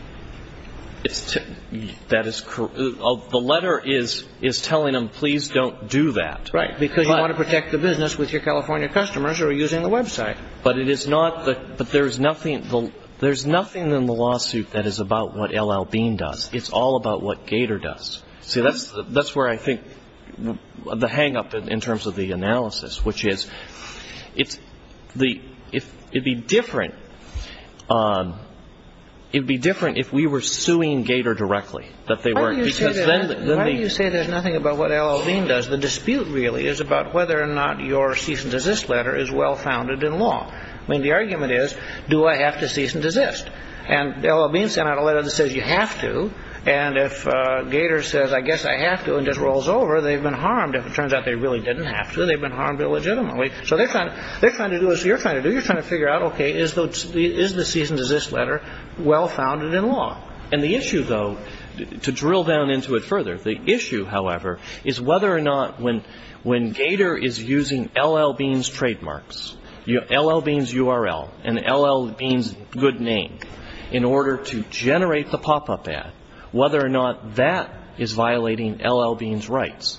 That is correct. The letter is telling them, please don't do that. Right. Because you want to protect the business with your California customers who are using the Web site. But it is not the ‑‑ but there is nothing in the lawsuit that is about what L.L. Bean does. It's all about what Gator does. See, that's where I think the hangup in terms of the analysis, which is it's the ‑‑ it'd be different. It'd be different if we were suing Gator directly, that they weren't. Why do you say there's nothing about what L.L. Bean does? The dispute really is about whether or not your cease and desist letter is well founded in law. I mean, the argument is, do I have to cease and desist? And L.L. Bean sent out a letter that says you have to. And if Gator says, I guess I have to and just rolls over, they've been harmed. If it turns out they really didn't have to, they've been harmed illegitimately. So they're trying to do what you're trying to do. Is the cease and desist letter well founded in law? And the issue, though, to drill down into it further, the issue, however, is whether or not when Gator is using L.L. Bean's trademarks, L.L. Bean's URL, and L.L. Bean's good name in order to generate the pop‑up ad, whether or not that is violating L.L. Bean's rights.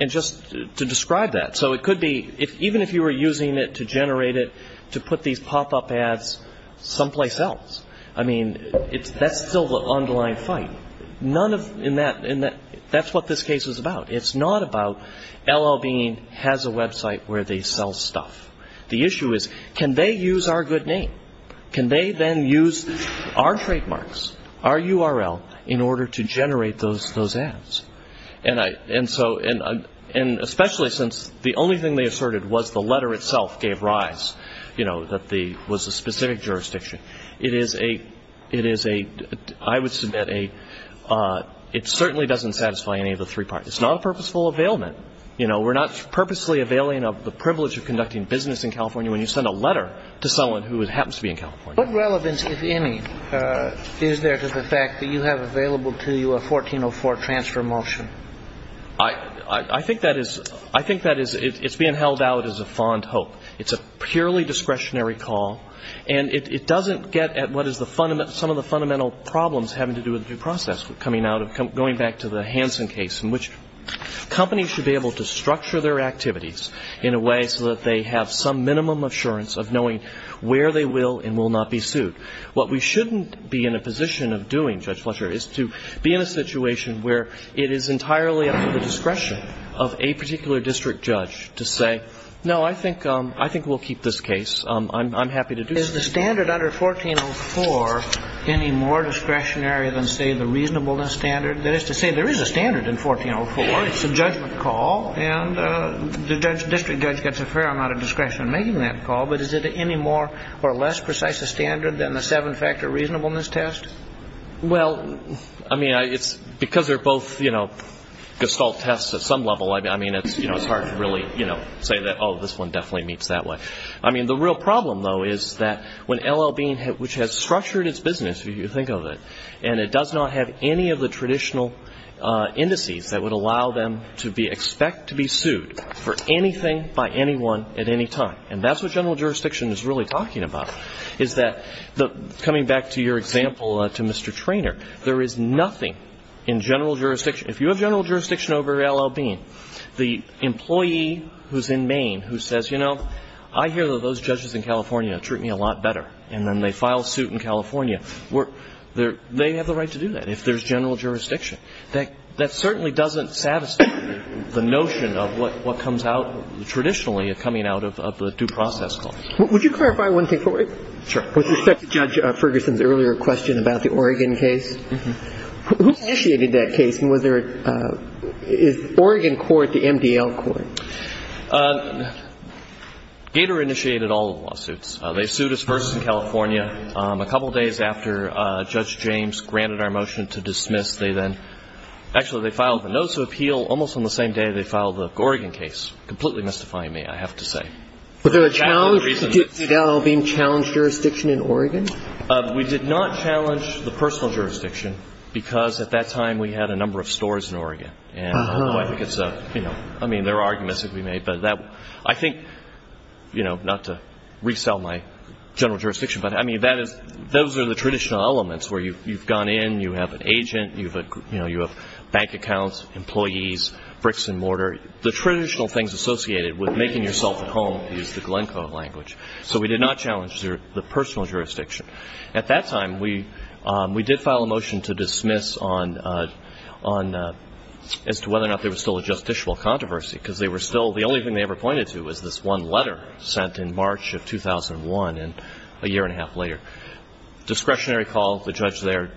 And just to describe that. So it could be, even if you were using it to generate it to put these pop‑up ads someplace else, I mean, that's still the underlying fight. That's what this case is about. It's not about L.L. Bean has a website where they sell stuff. The issue is, can they use our good name? Can they then use our trademarks, our URL, in order to generate those ads? And especially since the only thing they asserted was the letter itself gave rise, you know, that was a specific jurisdiction. It is a ‑‑ I would submit a ‑‑ it certainly doesn't satisfy any of the three parts. It's not a purposeful availment. You know, we're not purposely availing of the privilege of conducting business in California when you send a letter to someone who happens to be in California. What relevance, if any, is there to the fact that you have available to you a 1404 transfer motion? I think that is ‑‑ I think that is ‑‑ it's being held out as a fond hope. It's a purely discretionary call. And it doesn't get at what is the fundamental ‑‑ some of the fundamental problems having to do with due process coming out of ‑‑ going back to the Hansen case in which companies should be able to structure their activities in a way so that they have some minimum assurance of knowing where they will and will not be sued. What we shouldn't be in a position of doing, Judge Fletcher, is to be in a situation where it is entirely up to the discretion of a particular district judge to say, no, I think we'll keep this case. I'm happy to do so. Is the standard under 1404 any more discretionary than, say, the reasonableness standard? That is to say, there is a standard in 1404. It's a judgment call. And the district judge gets a fair amount of discretion in making that call. But is it any more or less precise a standard than the seven‑factor reasonableness test? Well, I mean, it's ‑‑ because they're both, you know, gestalt tests at some level, I mean, it's hard to really, you know, say that, oh, this one definitely meets that way. I mean, the real problem, though, is that when L.L. Bean, which has structured its business, if you think of it, and it does not have any of the traditional indices that would allow them to be ‑‑ expect to be sued for anything by anyone at any time. And that's what general jurisdiction is really talking about, is that the ‑‑ coming back to your example to Mr. Treanor, there is nothing in general jurisdiction. If you have general jurisdiction over L.L. Bean, the employee who's in Maine who says, you know, I hear that those judges in California treat me a lot better, and then they file a suit in California. They have the right to do that if there's general jurisdiction. That certainly doesn't satisfy the notion of what comes out traditionally of coming out of the due process court. Would you clarify one thing for me? Sure. With respect to Judge Ferguson's earlier question about the Oregon case, who initiated that case, and was there a ‑‑ is Oregon court the MDL court? Gator initiated all the lawsuits. They sued us first in California. A couple days after Judge James granted our motion to dismiss, they then ‑‑ actually, they filed the notice of appeal almost on the same day they filed the Oregon case, completely mystifying me, I have to say. Was there a challenge? Did L.L. Bean challenge jurisdiction in Oregon? We did not challenge the personal jurisdiction, because at that time we had a number of stores in Oregon. I think it's a ‑‑ I mean, there are arguments that can be made, but I think, you know, not to resell my general jurisdiction, but, I mean, those are the traditional elements where you've gone in, you have an agent, you have bank accounts, employees, bricks and mortar. The traditional things associated with making yourself at home is the Glencoe language. So we did not challenge the personal jurisdiction. At that time, we did file a motion to dismiss on ‑‑ as to whether or not there was still a justiciable controversy, because they were still ‑‑ the only thing they ever pointed to was this one letter sent in March of 2001 and a year and a half later. Discretionary call, the judge there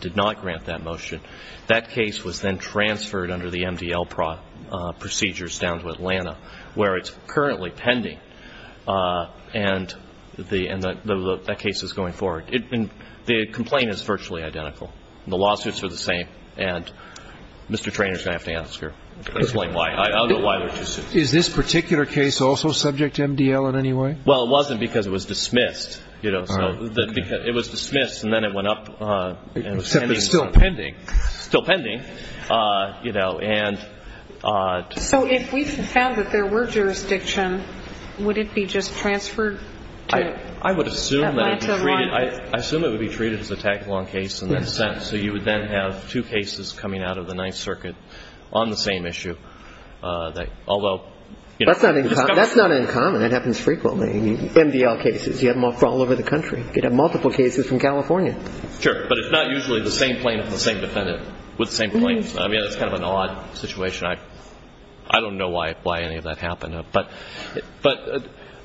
did not grant that motion. That case was then transferred under the MDL procedures down to Atlanta, where it's currently pending, and that case is going forward. The complaint is virtually identical. The lawsuits are the same, and Mr. Treanor is going to have to ask her. I don't know why they're too soon. Is this particular case also subject to MDL in any way? Well, it wasn't because it was dismissed. It was dismissed, and then it went up. Except it's still pending. Still pending. So if we found that there were jurisdiction, would it be just transferred to Atlanta? I would assume that it would be treated as a tag‑along case in that sense. So you would then have two cases coming out of the Ninth Circuit on the same issue. Although ‑‑ That's not uncommon. It happens frequently. MDL cases. You have them all over the country. You have multiple cases from California. But it's not usually the same plaintiff and the same defendant with the same case. I mean, it's kind of an odd situation. I don't know why any of that happened. But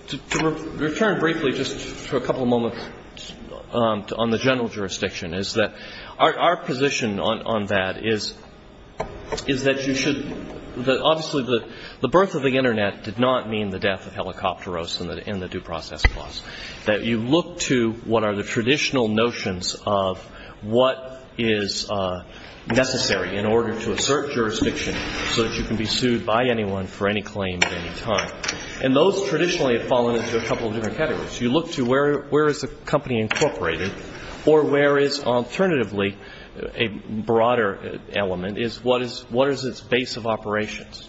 to return briefly just for a couple of moments on the general jurisdiction, is that our position on that is that you should ‑‑ obviously the birth of the Internet did not mean the death of Helicopteros and the due process clause. That you look to what are the traditional notions of what is necessary in order to assert jurisdiction so that you can be sued by anyone for any claim at any time. And those traditionally have fallen into a couple of different categories. You look to where is the company incorporated or where is alternatively a broader element, is what is its base of operations.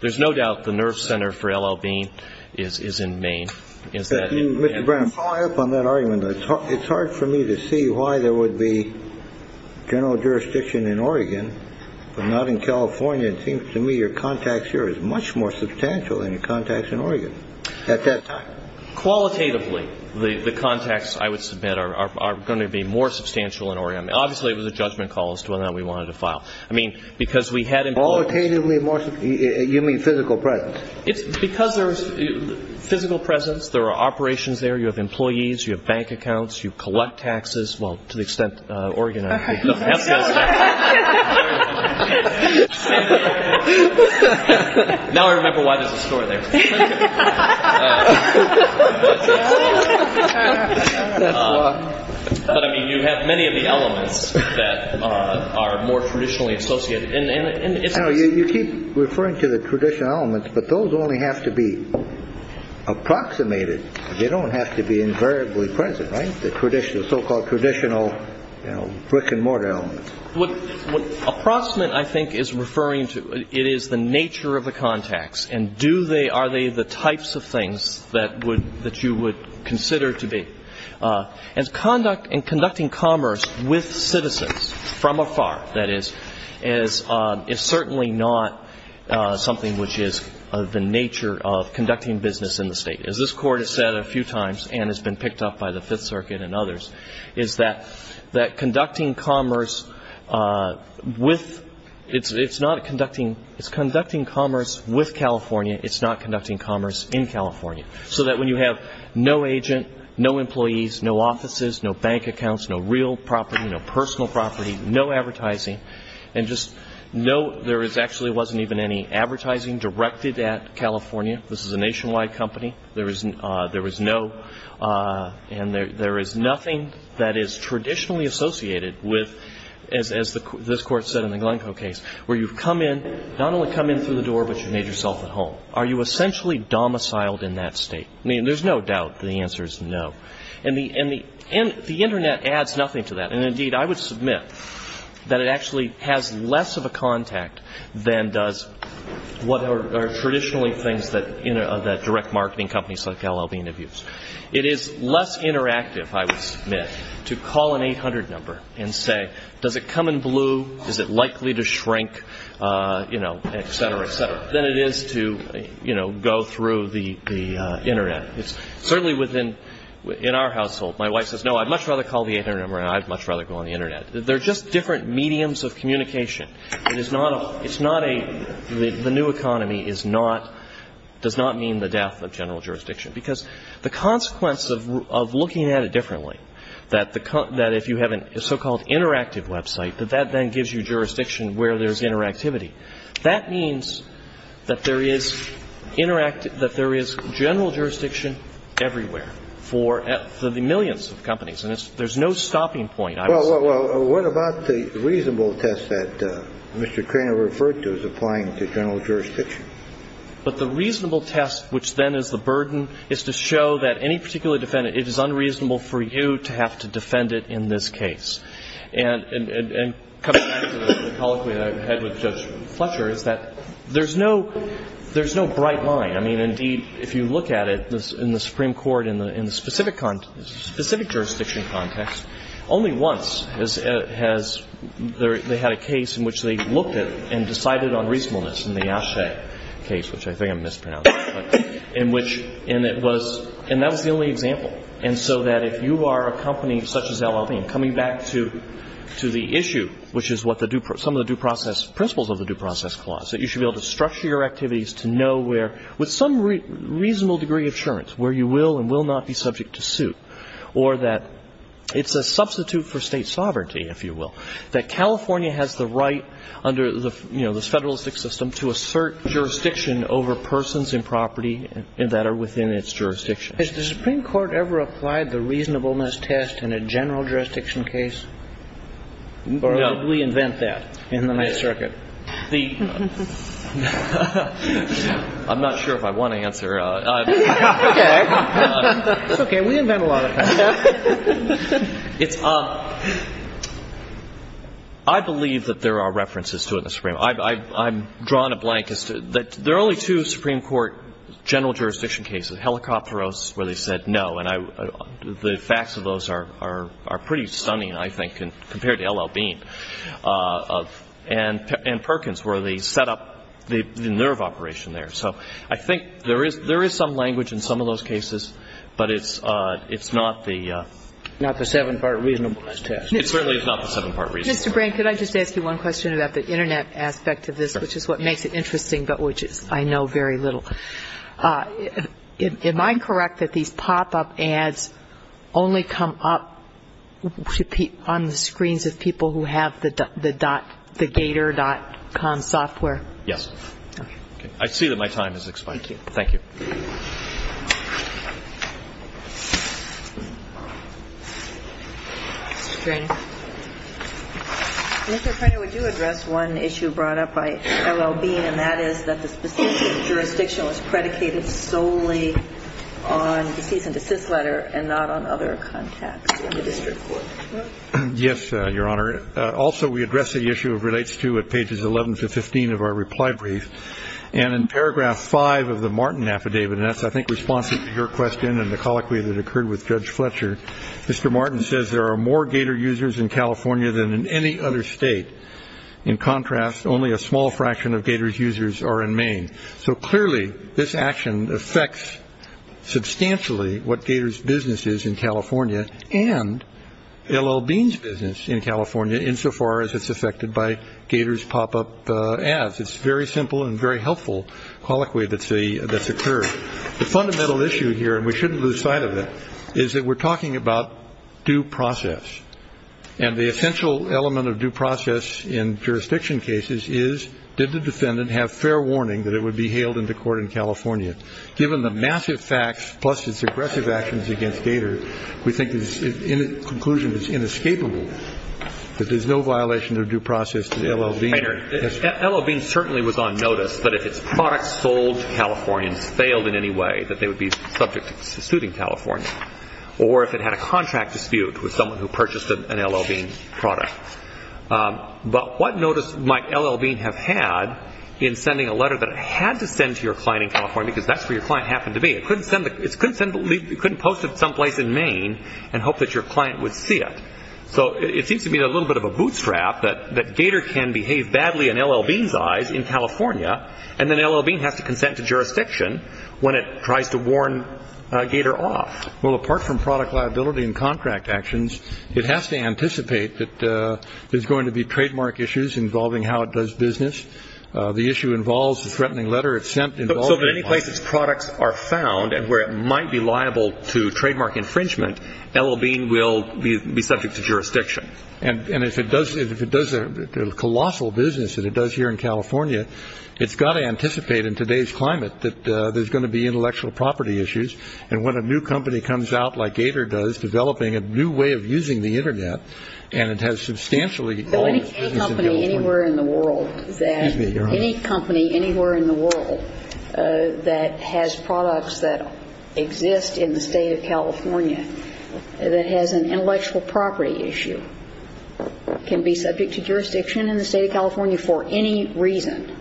There's no doubt the nerve center for L.L. Bean is in Maine. Mr. Brennan, following up on that argument, it's hard for me to see why there would be general jurisdiction in Oregon but not in California. It seems to me your contacts here is much more substantial than your contacts in Oregon at that time. Qualitatively, the contacts, I would submit, are going to be more substantial in Oregon. Obviously, it was a judgment call as to whether or not we wanted to file. I mean, because we had employees. Qualitatively, you mean physical presence. Because there's physical presence, there are operations there. You have employees. You have bank accounts. You collect taxes. Well, to the extent Oregon has. Now I remember why there's a store there. But, I mean, you have many of the elements that are more traditionally associated. You keep referring to the traditional elements, but those only have to be approximated. They don't have to be invariably present, right? The so-called traditional brick-and-mortar elements. What approximate, I think, is referring to, it is the nature of the contacts, and are they the types of things that you would consider to be. And conducting commerce with citizens from afar, that is, is certainly not something which is the nature of conducting business in the state. As this Court has said a few times, and has been picked up by the Fifth Circuit and others, is that conducting commerce with, it's conducting commerce with California. It's not conducting commerce in California. So that when you have no agent, no employees, no offices, no bank accounts, no real property, no personal property, no advertising, and just no, there actually wasn't even any advertising directed at California. This is a nationwide company. There was no, and there is nothing that is traditionally associated with, as this Court said in the Glencoe case, where you've come in, not only come in through the door, but you've made yourself at home. Are you essentially domiciled in that state? I mean, there's no doubt that the answer is no. And the Internet adds nothing to that. And, indeed, I would submit that it actually has less of a contact than does what are traditionally things that, you know, that direct marketing companies like LLB interviews. It is less interactive, I would submit, to call an 800 number and say, does it come in blue, is it likely to shrink, you know, et cetera, et cetera, than it is to, you know, go through the Internet. It's certainly within, in our household, my wife says, no, I'd much rather call the 800 number and I'd much rather go on the Internet. They're just different mediums of communication. It is not a, it's not a, the new economy is not, does not mean the death of general jurisdiction. Because the consequence of looking at it differently, that if you have a so-called interactive website, that that then gives you jurisdiction where there's interactivity. That means that there is general jurisdiction everywhere for the millions of companies. And there's no stopping point, I would say. Well, what about the reasonable test that Mr. Cranor referred to as applying to general jurisdiction? But the reasonable test, which then is the burden, is to show that any particular defendant, it is unreasonable for you to have to defend it in this case. And coming back to the colloquy I had with Judge Fletcher is that there's no bright line. I mean, indeed, if you look at it, in the Supreme Court, in the specific jurisdiction context, only once has there, they had a case in which they looked at and decided on reasonableness, in the Asche case, which I think I mispronounced, in which, and it was, and that was the only example. And so that if you are a company such as LLV, and coming back to the issue, which is what the, some of the due process, principles of the due process clause, that you should be able to structure your activities to know where, with some reasonable degree of assurance, where you will and will not be subject to suit. Or that it's a substitute for state sovereignty, if you will. That California has the right, under the, you know, this federalistic system, to assert jurisdiction over persons and property that are within its jurisdiction. Has the Supreme Court ever applied the reasonableness test in a general jurisdiction case? Or did we invent that in the Ninth Circuit? I'm not sure if I want to answer. Okay. It's okay. We invent a lot of stuff. It's, I believe that there are references to it in the Supreme Court. I've drawn a blank as to, there are only two Supreme Court general jurisdiction cases, Helicopteros, where they said no. And the facts of those are pretty stunning, I think, compared to LLV. And Perkins, where they set up the nerve operation there. So I think there is some language in some of those cases, but it's not the... Not the seven-part reasonableness test. It certainly is not the seven-part reasonableness test. Mr. Brain, could I just ask you one question about the Internet aspect of this, which is what makes it interesting, but which I know very little. Am I correct that these pop-up ads only come up on the screens of people who have the Gator.com software? Yes. Okay. I see that my time has expired. Thank you. Thank you. Mr. Brain. Mr. Perkins, would you address one issue brought up by LLV, and that is that the specific jurisdiction was predicated solely on the cease-and-desist letter and not on other contacts in the district court? Yes, Your Honor. Also, we address the issue of relates to at pages 11 to 15 of our reply brief. And in paragraph 5 of the Martin affidavit, and that's, I think, responsive to your question and the colloquy that occurred with Judge Fletcher, Mr. Martin says there are more gator users in California than in any other state. In contrast, only a small fraction of gators users are in Maine. So clearly, this action affects substantially what gators business is in California and LL Bean's business in California insofar as it's affected by gators pop-up ads. It's very simple and very helpful colloquy that's occurred. The fundamental issue here, and we shouldn't lose sight of it, is that we're talking about due process. And the essential element of due process in jurisdiction cases is, did the defendant have fair warning that it would be hailed into court in California? Given the massive facts plus its aggressive actions against gators, we think the conclusion is inescapable that there's no violation of due process to LL Bean. LL Bean certainly was on notice, but if its products sold to Californians failed in any way, that they would be subject to suiting California. Or if it had a contract dispute with someone who purchased an LL Bean product. But what notice might LL Bean have had in sending a letter that it had to send to your client in California because that's where your client happened to be. It couldn't post it someplace in Maine and hope that your client would see it. So it seems to me a little bit of a bootstrap that gator can behave badly in LL Bean's eyes in California and then LL Bean has to consent to jurisdiction when it tries to warn a gator off. Well, apart from product liability and contract actions, it has to anticipate that there's going to be trademark issues involving how it does business. The issue involves the threatening letter it sent. So if in any place its products are found and where it might be liable to trademark infringement, LL Bean will be subject to jurisdiction. And if it does a colossal business that it does here in California, it's got to anticipate in today's climate that there's going to be intellectual property issues. And when a new company comes out, like Gator does, developing a new way of using the Internet, and it has substantially all the business in California. Any company anywhere in the world that has products that exist in the state of California that has an intellectual property issue can be subject to jurisdiction in the state of California for any reason.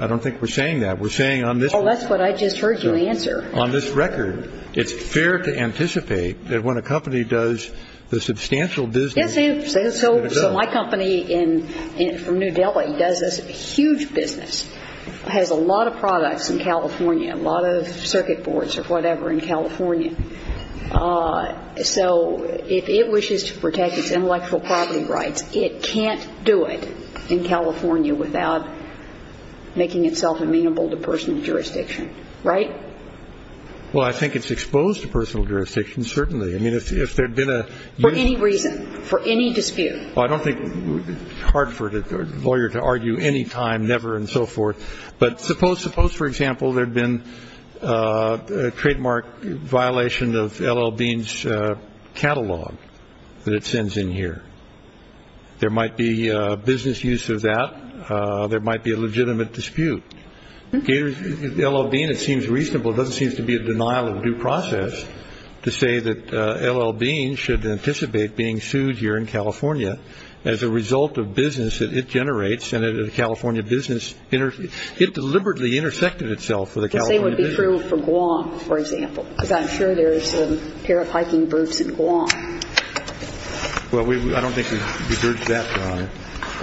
I don't think we're saying that. We're saying on this record. Oh, that's what I just heard you answer. On this record, it's fair to anticipate that when a company does the substantial business. Yes, it is. So my company from New Delhi does this huge business, has a lot of products in California, a lot of circuit boards or whatever in California. So if it wishes to protect its intellectual property rights, it can't do it in California without making itself amenable to personal jurisdiction. Right? Well, I think it's exposed to personal jurisdiction, certainly. I mean, if there had been a... For any reason, for any dispute. Well, I don't think it's hard for a lawyer to argue any time, never, and so forth. But suppose, for example, there had been a trademark violation of L.L. Bean's catalog that it sends in here. There might be business use of that. There might be a legitimate dispute. L.L. Bean, it seems reasonable. It doesn't seem to be a denial of due process to say that L.L. Bean should anticipate being sued here in California as a result of business that it generates and that a California business... It deliberately intersected itself with a California business. The same would be true for Guam, for example, because I'm sure there's a pair of hiking boots in Guam. Well, I don't think we've diverged that far.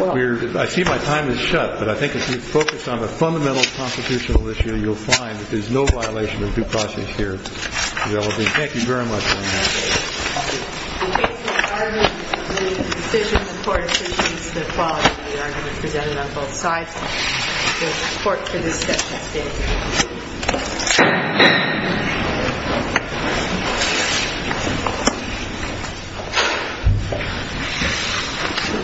I see my time is shut, but I think if you focus on the fundamental constitutional issue, you'll find that there's no violation of due process here at L.L. Bean. Thank you very much. Thank you. Thank you.